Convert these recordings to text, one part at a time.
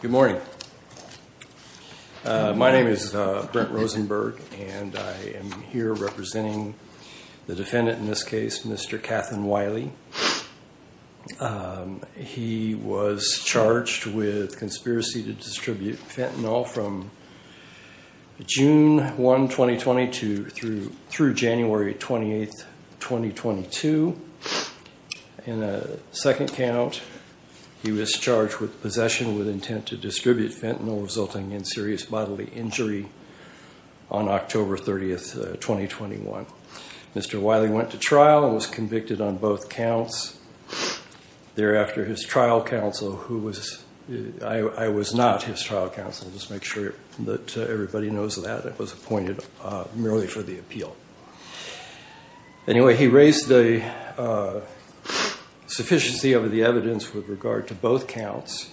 Good morning, my name is Brent Rosenberg, and I am here representing the defendant in this case, Mr. Kathan Wiley. He was charged with conspiracy to distribute fentanyl from June 1, 2020 to through January 28, 2022. In a second count, he was charged with possession with intent to distribute fentanyl resulting in serious bodily injury on October 30, 2021. Mr. Wiley went to trial and was convicted on both counts. Thereafter, his trial counsel, who was, I was not his trial counsel, just to make sure that everybody knows that, was appointed merely for the appeal. Anyway, he raised the sufficiency of the evidence with regard to both counts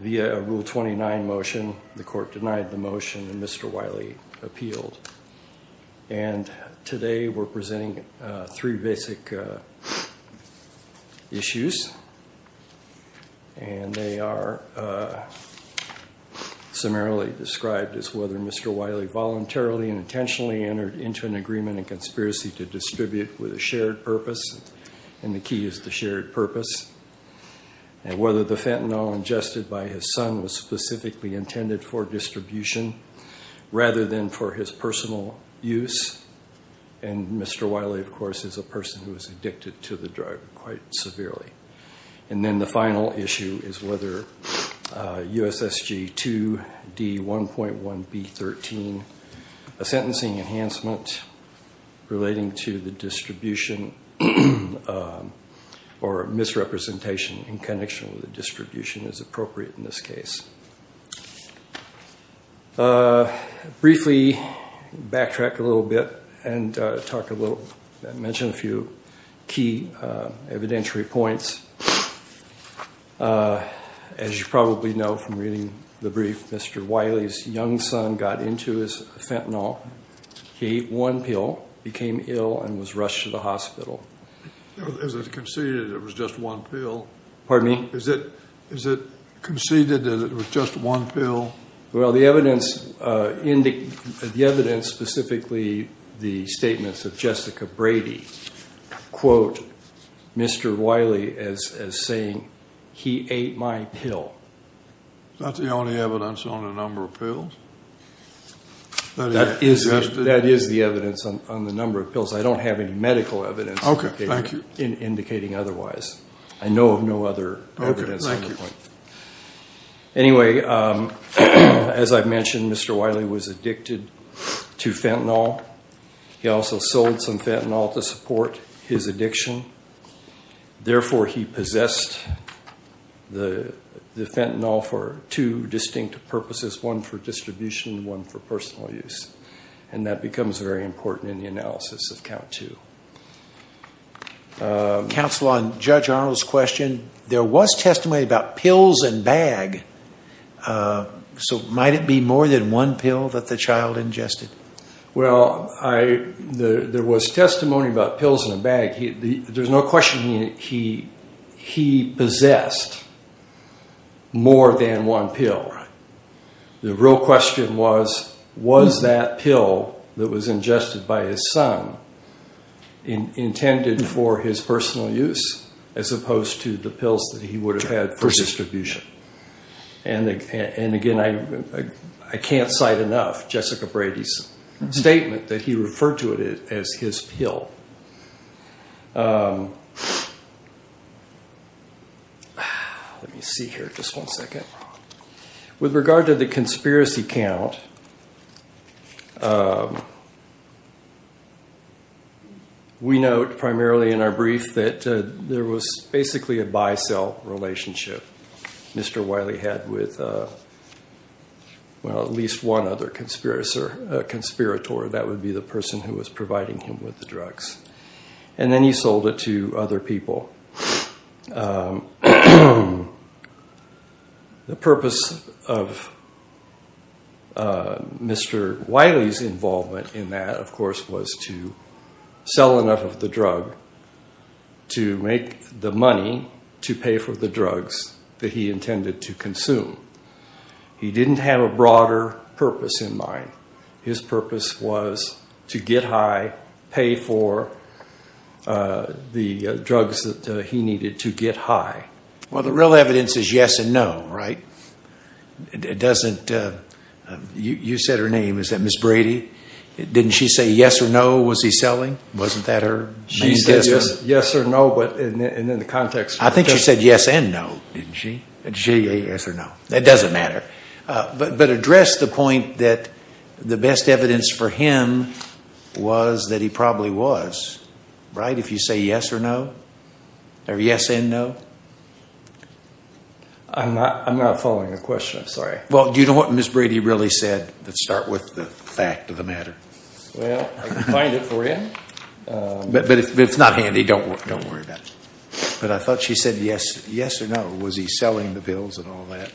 via a Rule 29 motion. The court denied the motion and Mr. Wiley appealed. And today we're presenting three basic issues. And they are summarily described as whether Mr. Wiley voluntarily and intentionally entered into an agreement and conspiracy to distribute with a shared purpose. And the key is the shared purpose. And whether the fentanyl ingested by his son was specifically intended for distribution rather than for his personal use. And Mr. Wiley, of course, is a person who is addicted to the drug quite severely. And then the final issue is whether USSG 2D1.1B13, a sentencing enhancement relating to the distribution or misrepresentation in connection with the distribution, is appropriate in this case. Briefly backtrack a little bit and talk a little, mention a few key evidentiary points. As you probably know from reading the brief, Mr. Wiley's young son got into his fentanyl. He ate one pill, became ill, and was rushed to the hospital. Is it conceded it was just one pill? Pardon me? Is it conceded that it was just one pill? Well, the evidence specifically, the statements of Jessica Brady, quote Mr. Wiley as saying, he ate my pill. That's the only evidence on the number of pills? That is the evidence on the number of pills. I don't have any medical evidence indicating otherwise. I know of no other evidence on the point. Anyway, as I mentioned, Mr. Wiley was addicted to fentanyl. He also sold some fentanyl to support his addiction. Therefore, he possessed the fentanyl for two distinct purposes, one for distribution and one for personal use. That becomes very important in the analysis of count two. Counsel, on Judge Arnold's question, there was testimony about pills in a bag. Might it be more than one pill that the child ingested? Well, there was testimony about pills in a bag. There's no question he possessed more than one pill. The real question was, was that pill that was ingested by his son intended for his personal use as opposed to the pills that he would have had for distribution? And again, I can't cite enough Jessica Brady's statement that he referred to it as his pill. Let me see here just one second. With regard to the conspiracy count, we note primarily in our brief that there was basically a buy-sell relationship Mr. Wiley had with, well, at least one other conspirator. That would be the person who was providing him with the drugs. And then he sold it to other people. The purpose of Mr. Wiley's involvement in that, of course, was to sell enough of the drug to make the money to pay for the drugs that he intended to consume. He didn't have a broader purpose in mind. His purpose was to get high, pay for the drugs that he needed to get high. Well, the real evidence is yes and no, right? It doesn't, you said her name, is that Ms. Brady? Didn't she say yes or no, was he selling? Wasn't that her name? She said yes or no, but in the context of her testimony. I think she said yes and no, didn't she? She said yes or no. It doesn't matter. But address the point that the best evidence for him was that he probably was, right, if you say yes or no? Or yes and no? I'm not following the question, I'm sorry. Well, do you know what Ms. Brady really said? Let's start with the fact of the matter. Well, I can find it for you. But if it's not handy, don't worry about it. But I thought she said yes or no. Was he selling the pills and all that?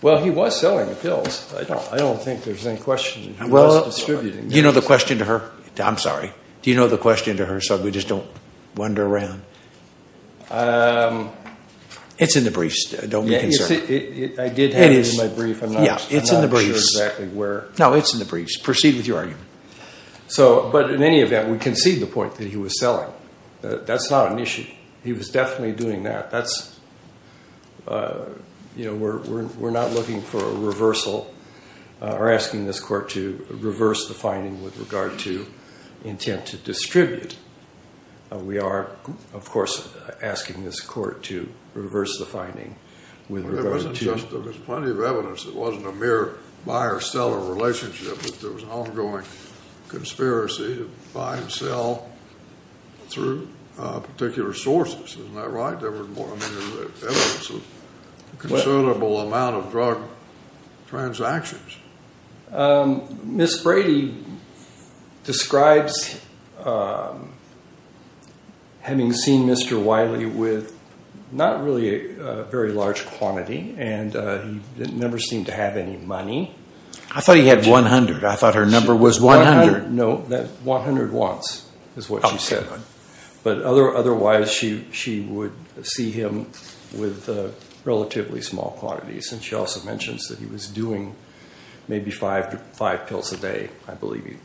Well, he was selling the pills. I don't think there's any question that he was distributing them. Do you know the question to her? I'm sorry. Do you know the question to her so we just don't wander around? It's in the briefs. Don't be concerned. I did have it in my brief. I'm not sure exactly where. No, it's in the briefs. Proceed with your argument. But in any event, we concede the point that he was selling. That's not an issue. He was definitely doing that. That's, you know, we're not looking for a reversal or asking this court to reverse the finding with regard to intent to distribute. We are, of course, asking this court to reverse the finding with regard to There was plenty of evidence. It wasn't a mere buyer-seller relationship. There was an ongoing conspiracy to buy and sell through particular sources. Isn't that right? There was more evidence of a considerable amount of drug transactions. Ms. Brady describes having seen Mr. Wiley with not really a very large quantity, and he never seemed to have any money. I thought he had 100. I thought her number was 100. No, 100 watts is what she said. But otherwise, she would see him with relatively small quantities. And she also mentions that he was doing maybe five pills a day, I believe.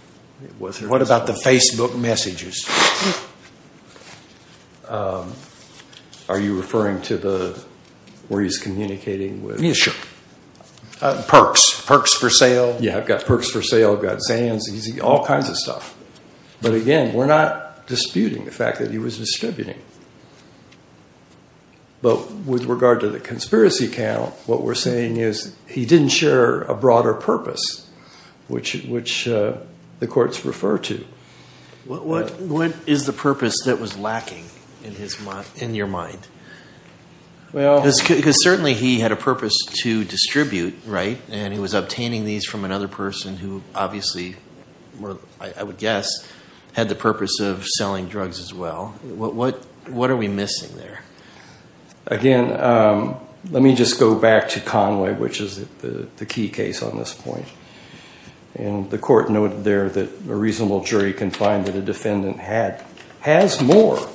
What about the Facebook messages? Are you referring to where he's communicating with? Yes, sure. Perks, perks for sale. Yes, I've got perks for sale. I've got Zans, all kinds of stuff. But again, we're not disputing the fact that he was distributing. But with regard to the conspiracy count, what we're saying is he didn't share a broader purpose, which the courts refer to. What is the purpose that was lacking in your mind? Because certainly he had a purpose to distribute, right? And he was obtaining these from another person who obviously, I would guess, had the purpose of selling drugs as well. What are we missing there? Again, let me just go back to Conway, which is the key case on this point. And the court noted there that a reasonable jury can find that a defendant has more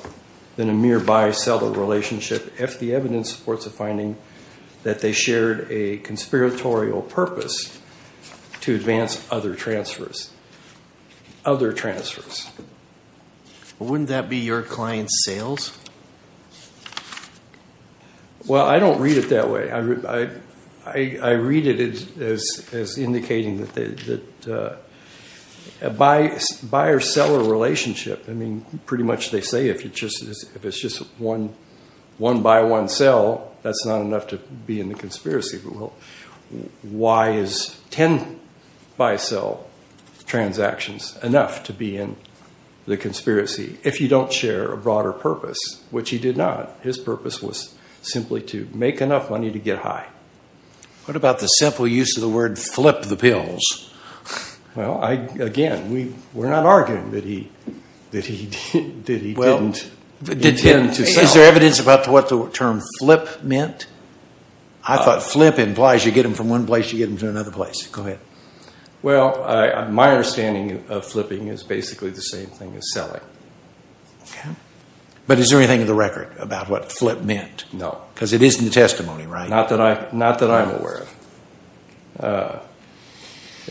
than a mere buyer-seller relationship if the evidence supports the finding that they shared a conspiratorial purpose to advance other transfers. Other transfers. Wouldn't that be your client's sales? Well, I don't read it that way. I read it as indicating that a buyer-seller relationship, I mean, pretty much they say if it's just one buy-one-sell, that's not enough to be in the conspiracy. Well, why is 10 buy-sell transactions enough to be in the conspiracy if you don't share a broader purpose, which he did not? His purpose was simply to make enough money to get high. What about the simple use of the word flip the pills? Well, again, we're not arguing that he didn't intend to sell. Is there evidence about what the term flip meant? I thought flip implies you get them from one place, you get them to another place. Go ahead. Well, my understanding of flipping is basically the same thing as selling. Okay. But is there anything in the record about what flip meant? No. Because it is in the testimony, right? Not that I'm aware of.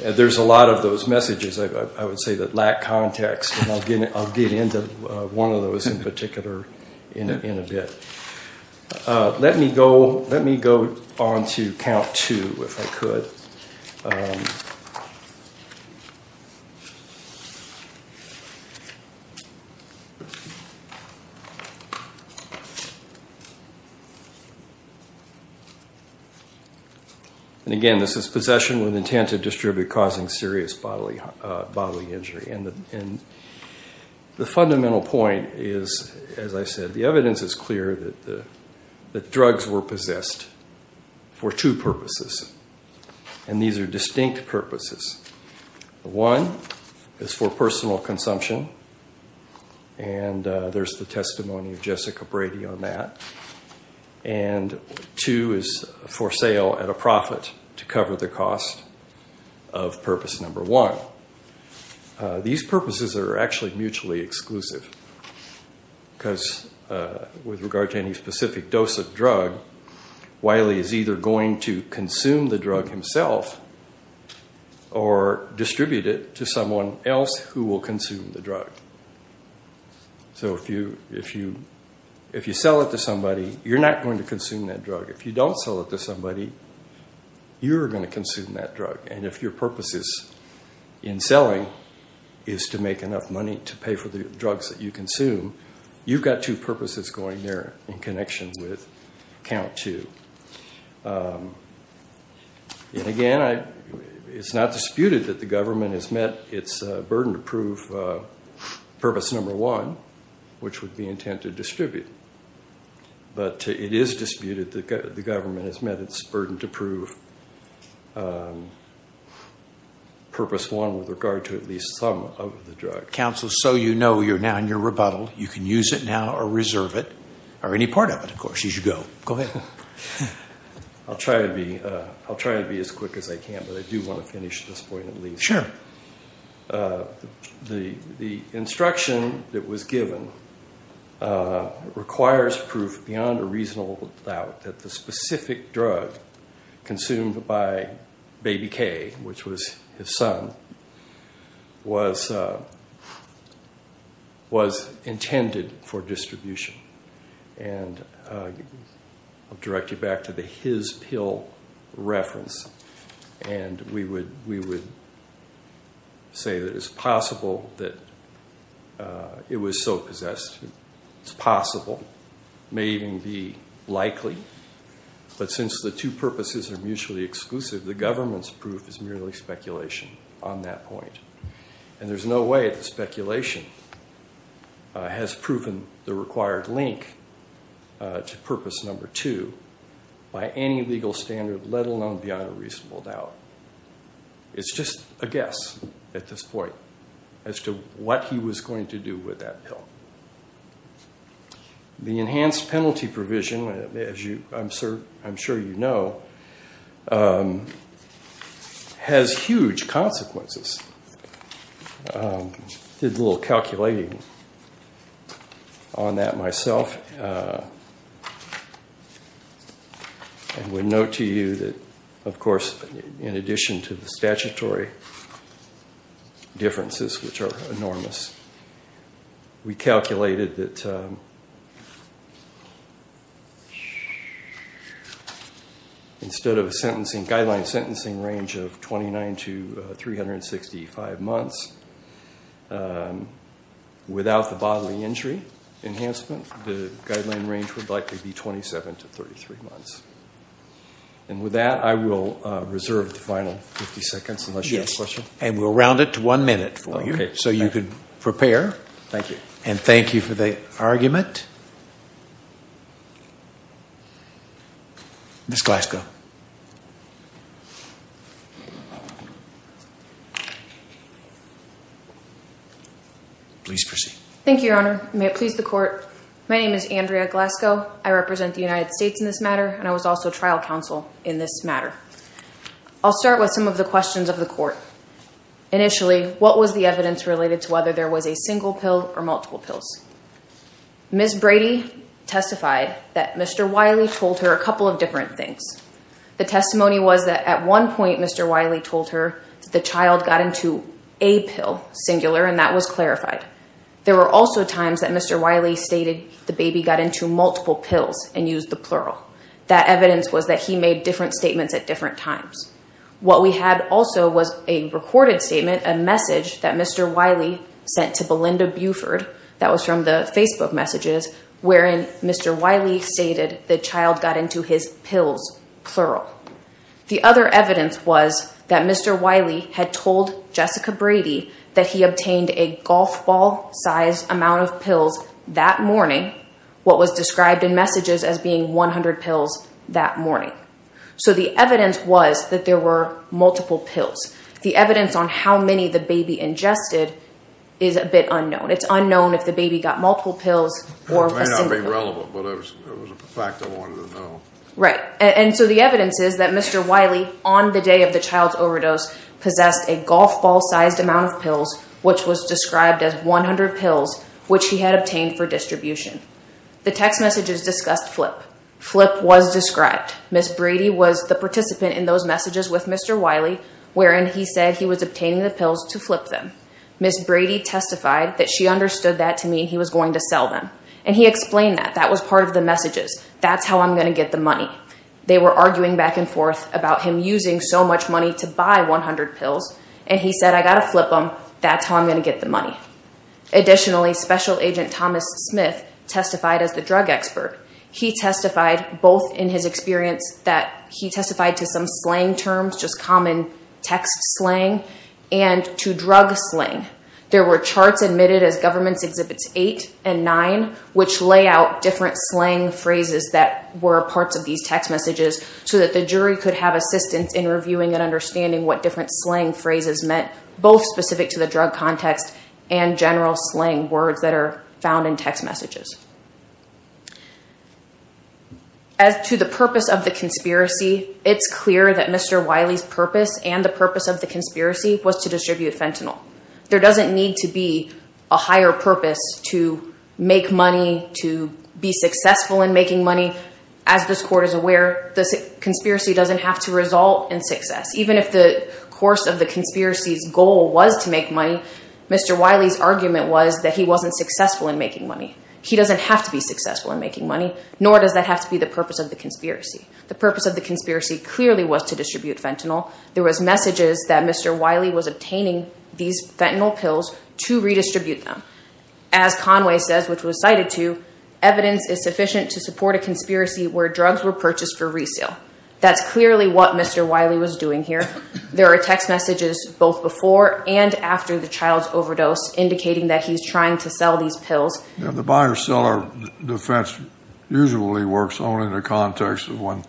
There's a lot of those messages I would say that lack context, and I'll get into one of those in particular in a bit. Let me go on to count two, if I could. And again, this is possession with intent to distribute causing serious bodily injury. The fundamental point is, as I said, the evidence is clear that drugs were possessed for two purposes, and these are distinct purposes. One is for personal consumption, and there's the testimony of Jessica Brady on that. And two is for sale at a profit to cover the cost of purpose number one. These purposes are actually mutually exclusive, because with regard to any specific dose of drug, Wiley is either going to consume the drug himself or distribute it to someone else who will consume the drug. So if you sell it to somebody, you're not going to consume that drug. If you don't sell it to somebody, you're going to consume that drug. And if your purpose in selling is to make enough money to pay for the drugs that you consume, you've got two purposes going there in connection with count two. And again, it's not disputed that the government has met its burden to prove purpose number one, which would be intent to distribute. But it is disputed that the government has met its burden to prove purpose one with regard to at least some of the drugs. Counsel, so you know, you're now in your rebuttal. You can use it now or reserve it or any part of it, of course, as you go. I'll try to be as quick as I can, but I do want to finish this point at least. The instruction that was given requires proof beyond a reasonable doubt that the specific drug consumed by Baby K, which was his son, was intended for distribution. And I'll direct you back to the his pill reference. And we would say that it's possible that it was so possessed. It's possible. It may even be likely. But since the two purposes are mutually exclusive, the government's proof is merely speculation on that point. And there's no way that speculation has proven the required link to purpose number two by any legal standard, let alone beyond a reasonable doubt. It's just a guess at this point as to what he was going to do with that pill. The enhanced penalty provision, as I'm sure you know, has huge consequences. I did a little calculating on that myself. I would note to you that, of course, in addition to the statutory differences, which are enormous, we calculated that instead of a guideline sentencing range of 29 to 365 months, without the bodily injury enhancement, the guideline range would likely be 27 to 33 months. And with that, I will reserve the final 50 seconds, unless you have a question. Yes, and we'll round it to one minute for you. Okay. So you can prepare. Thank you. And thank you for the argument. Ms. Glasgow. Please proceed. Thank you, Your Honor. May it please the court. My name is Andrea Glasgow. I represent the United States in this matter, and I was also trial counsel in this matter. I'll start with some of the questions of the court. Initially, what was the evidence related to whether there was a single pill or multiple pills? Ms. Brady testified that Mr. Wiley told her a couple of different things. The testimony was that at one point Mr. Wiley told her that the child got into a pill, singular, and that was clarified. There were also times that Mr. Wiley stated the baby got into multiple pills and used the plural. That evidence was that he made different statements at different times. What we had also was a recorded statement, a message that Mr. Wiley sent to Belinda Buford. That was from the Facebook messages wherein Mr. Wiley stated the child got into his pills, plural. The other evidence was that Mr. Wiley had told Jessica Brady that he obtained a golf ball-sized amount of pills that morning, what was described in messages as being 100 pills that morning. So the evidence was that there were multiple pills. The evidence on how many the baby ingested is a bit unknown. It's unknown if the baby got multiple pills or a single pill. It may not be relevant, but it was a fact I wanted to know. Right. And so the evidence is that Mr. Wiley, on the day of the child's overdose, possessed a golf ball-sized amount of pills, which was described as 100 pills, which he had obtained for distribution. The text messages discussed FLIP. FLIP was described. Ms. Brady was the participant in those messages with Mr. Wiley wherein he said he was obtaining the pills to flip them. Ms. Brady testified that she understood that to mean he was going to sell them, and he explained that. That was part of the messages. That's how I'm going to get the money. They were arguing back and forth about him using so much money to buy 100 pills, and he said, I've got to flip them. That's how I'm going to get the money. Additionally, Special Agent Thomas Smith testified as the drug expert. He testified both in his experience that he testified to some slang terms, just common text slang, and to drug slang. There were charts admitted as Governments Exhibits 8 and 9, which lay out different slang phrases that were parts of these text messages so that the jury could have assistance in reviewing and understanding what different slang phrases meant, both specific to the drug context and general slang words that are found in text messages. As to the purpose of the conspiracy, it's clear that Mr. Wiley's purpose and the purpose of the conspiracy was to distribute fentanyl. There doesn't need to be a higher purpose to make money, to be successful in making money. As this Court is aware, the conspiracy doesn't have to result in success. Even if the course of the conspiracy's goal was to make money, Mr. Wiley's argument was that he wasn't successful in making money. He doesn't have to be successful in making money, nor does that have to be the purpose of the conspiracy. The purpose of the conspiracy clearly was to distribute fentanyl. There was messages that Mr. Wiley was obtaining these fentanyl pills to redistribute them. As Conway says, which was cited too, evidence is sufficient to support a conspiracy where drugs were purchased for resale. That's clearly what Mr. Wiley was doing here. There are text messages both before and after the child's overdose, indicating that he's trying to sell these pills. The buyer-seller defense usually works only in the context of when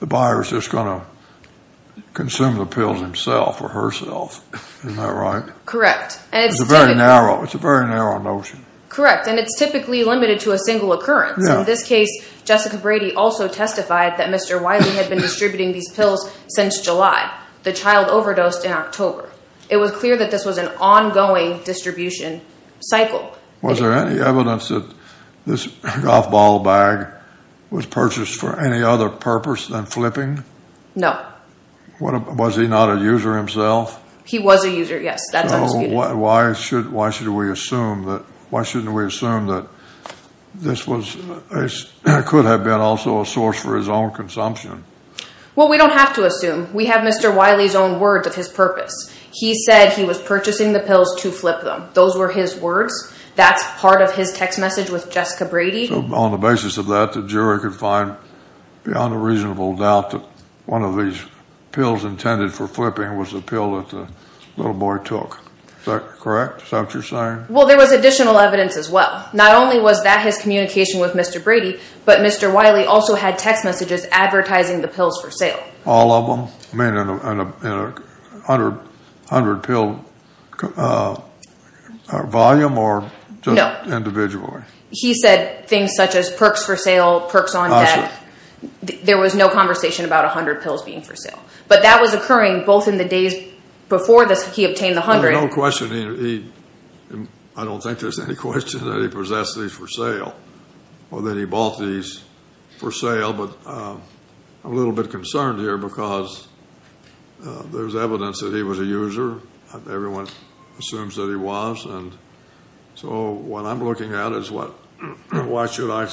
the buyer's just going to consume the pills himself or herself. Isn't that right? Correct. It's a very narrow notion. Correct, and it's typically limited to a single occurrence. In this case, Jessica Brady also testified that Mr. Wiley had been distributing these pills since July. The child overdosed in October. It was clear that this was an ongoing distribution cycle. Was there any evidence that this golf ball bag was purchased for any other purpose than flipping? No. Was he not a user himself? He was a user, yes. Why should we assume that this could have been also a source for his own consumption? Well, we don't have to assume. We have Mr. Wiley's own words of his purpose. He said he was purchasing the pills to flip them. Those were his words. That's part of his text message with Jessica Brady. So on the basis of that, the jury could find beyond a reasonable doubt that one of these pills intended for flipping was the pill that the little boy took. Is that correct? Is that what you're saying? Well, there was additional evidence as well. Not only was that his communication with Mr. Brady, but Mr. Wiley also had text messages advertising the pills for sale. All of them? I mean in a 100-pill volume or just individually? He said things such as perks for sale, perks on deck. There was no conversation about 100 pills being for sale. But that was occurring both in the days before he obtained the 100. There's no question. I don't think there's any question that he possessed these for sale or that he bought these for sale. I'm a little bit concerned here because there's evidence that he was a user. Everyone assumes that he was. So what I'm looking at is why should I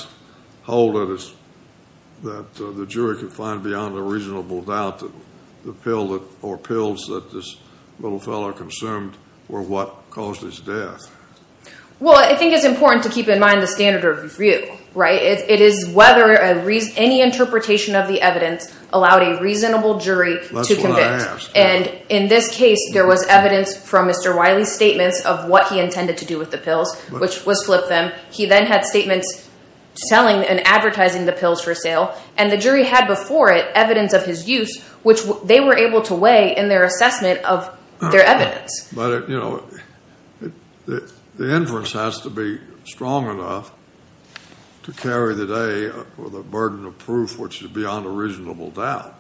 hold it that the jury could find beyond a reasonable doubt that the pills that this little fellow consumed were what caused his death? Well, I think it's important to keep in mind the standard of review. Right? It is whether any interpretation of the evidence allowed a reasonable jury to convict. That's what I asked. And in this case, there was evidence from Mr. Wiley's statements of what he intended to do with the pills, which was flip them. He then had statements selling and advertising the pills for sale. And the jury had before it evidence of his use, which they were able to weigh in their assessment of their evidence. But, you know, the inference has to be strong enough to carry the day with a burden of proof which is beyond a reasonable doubt.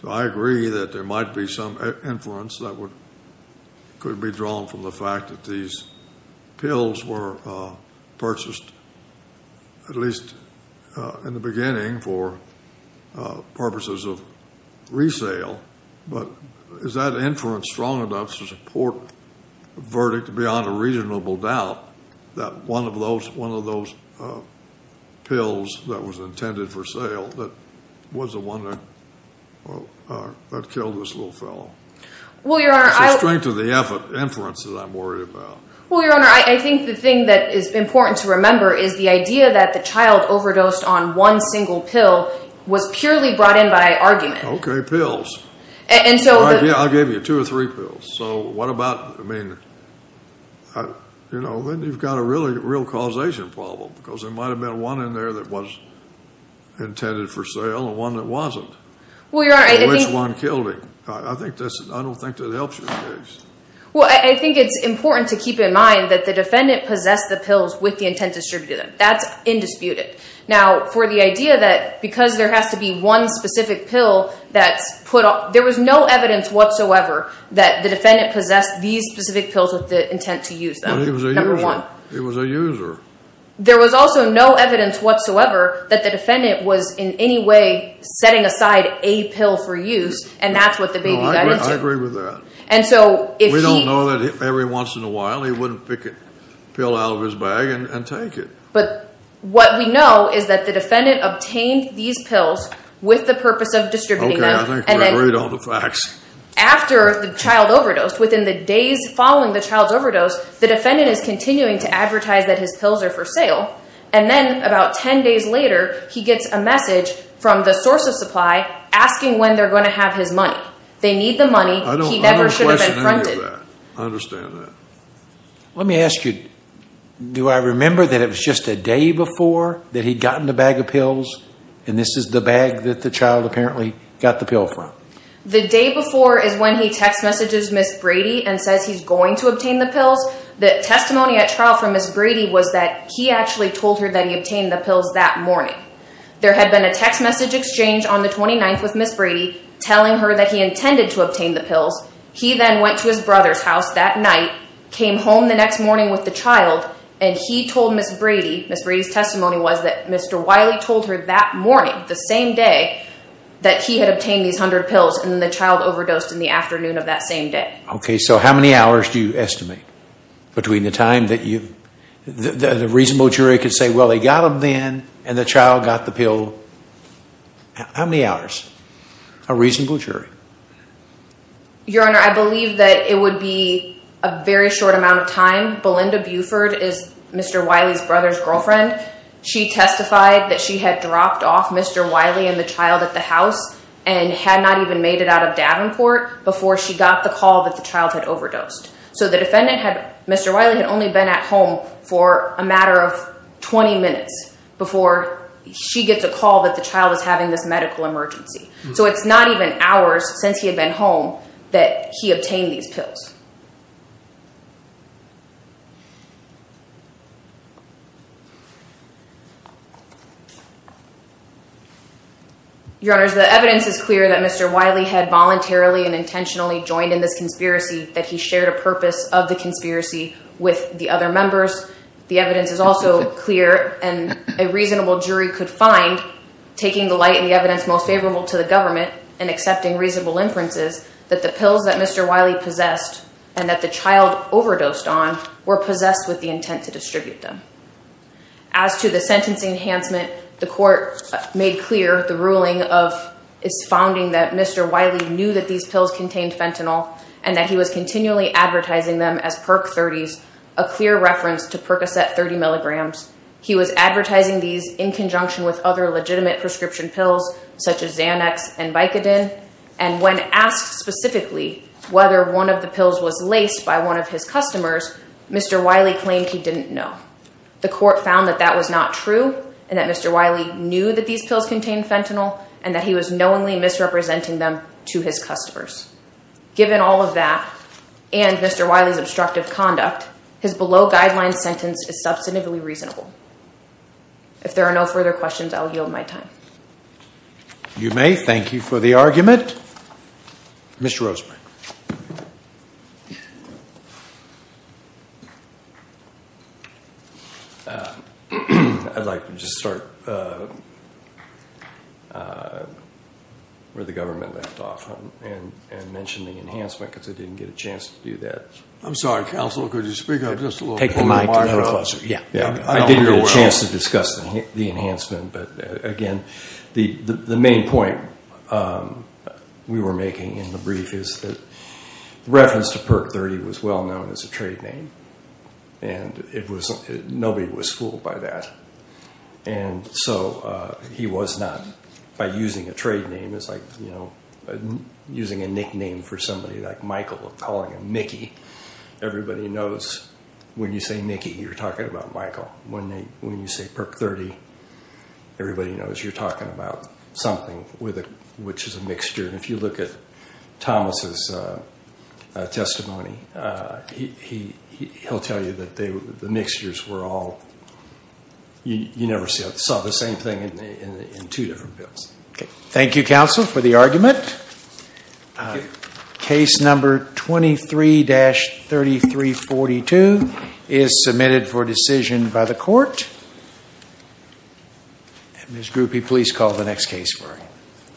So I agree that there might be some inference that could be drawn from the fact that these pills were purchased, at least in the beginning, for purposes of resale. But is that inference strong enough to support a verdict beyond a reasonable doubt that one of those pills that was intended for sale was the one that killed this little fellow? It's the strength of the inference that I'm worried about. Well, Your Honor, I think the thing that is important to remember is the idea that the child overdosed on one single pill was purely brought in by argument. Okay, pills. Yeah, I'll give you two or three pills. So what about, I mean, you know, then you've got a real causation problem because there might have been one in there that was intended for sale and one that wasn't. Which one killed him? I don't think that helps you in this case. Well, I think it's important to keep in mind that the defendant possessed the pills with the intent to distribute them. That's indisputed. Now, for the idea that because there has to be one specific pill that's put on, there was no evidence whatsoever that the defendant possessed these specific pills with the intent to use them. It was a user. There was also no evidence whatsoever that the defendant was in any way setting aside a pill for use, and that's what the baby died into. I agree with that. We don't know that every once in a while he wouldn't pick a pill out of his bag and take it. But what we know is that the defendant obtained these pills with the purpose of distributing them. Okay, I think I read all the facts. After the child overdosed, within the days following the child's overdose, the defendant is continuing to advertise that his pills are for sale, and then about 10 days later he gets a message from the source of supply asking when they're going to have his money. They need the money. I don't question any of that. I understand that. Let me ask you, do I remember that it was just a day before that he'd gotten the bag of pills, and this is the bag that the child apparently got the pill from? The day before is when he text messages Ms. Brady and says he's going to obtain the pills. The testimony at trial from Ms. Brady was that he actually told her that he obtained the pills that morning. There had been a text message exchange on the 29th with Ms. Brady telling her that he intended to obtain the pills. He then went to his brother's house that night, came home the next morning with the child, and he told Ms. Brady, Ms. Brady's testimony was that Mr. Wiley told her that morning, the same day, that he had obtained these 100 pills, and the child overdosed in the afternoon of that same day. Okay, so how many hours do you estimate between the time that you, the reasonable jury could say, well, they got them then, and the child got the pill. How many hours? A reasonable jury. Your Honor, I believe that it would be a very short amount of time. Belinda Buford is Mr. Wiley's brother's girlfriend. She testified that she had dropped off Mr. Wiley and the child at the house and had not even made it out of Davenport before she got the call that the child had overdosed. So the defendant had, Mr. Wiley had only been at home for a matter of 20 minutes before she gets a call that the child is having this medical emergency. So it's not even hours since he had been home that he obtained these pills. Your Honor, the evidence is clear that Mr. Wiley had voluntarily and intentionally joined in this conspiracy, that he shared a purpose of the conspiracy with the other members. The evidence is also clear, and a reasonable jury could find, taking the light and the evidence most favorable to the government and accepting reasonable inferences, that the pills that Mr. Wiley possessed and that the child overdosed on were possessed with the intent to distribute them. As to the sentencing enhancement, the court made clear the ruling of its founding that Mr. Wiley knew that these pills contained fentanyl and that he was continually advertising them as Perc 30s, a clear reference to Percocet 30 milligrams. He was advertising these in conjunction with other legitimate prescription pills such as Xanax and Vicodin. And when asked specifically whether one of the pills was laced by one of his customers, Mr. Wiley claimed he didn't know. The court found that that was not true and that Mr. Wiley knew that these pills contained fentanyl and that he was knowingly misrepresenting them to his customers. Given all of that and Mr. Wiley's obstructive conduct, his below-guideline sentence is substantively reasonable. If there are no further questions, I will yield my time. You may. Thank you for the argument. Mr. Rosenberg. I'd like to just start where the government left off. And mention the enhancement because I didn't get a chance to do that. I'm sorry, counsel, could you speak up just a little bit? Take the mic a little closer. I didn't get a chance to discuss the enhancement. But again, the main point we were making in the brief is that reference to Perc 30 was well known as a trade name. And nobody was fooled by that. And so he was not. By using a trade name is like using a nickname for somebody like Michael, calling him Mickey. Everybody knows when you say Mickey, you're talking about Michael. When you say Perc 30, everybody knows you're talking about something which is a mixture. And if you look at Thomas's testimony, he'll tell you that the mixtures were all, you never saw the same thing in two different bills. Thank you, counsel, for the argument. Case number 23-3342 is submitted for decision by the court. Ms. Grupe, please call the next case for me.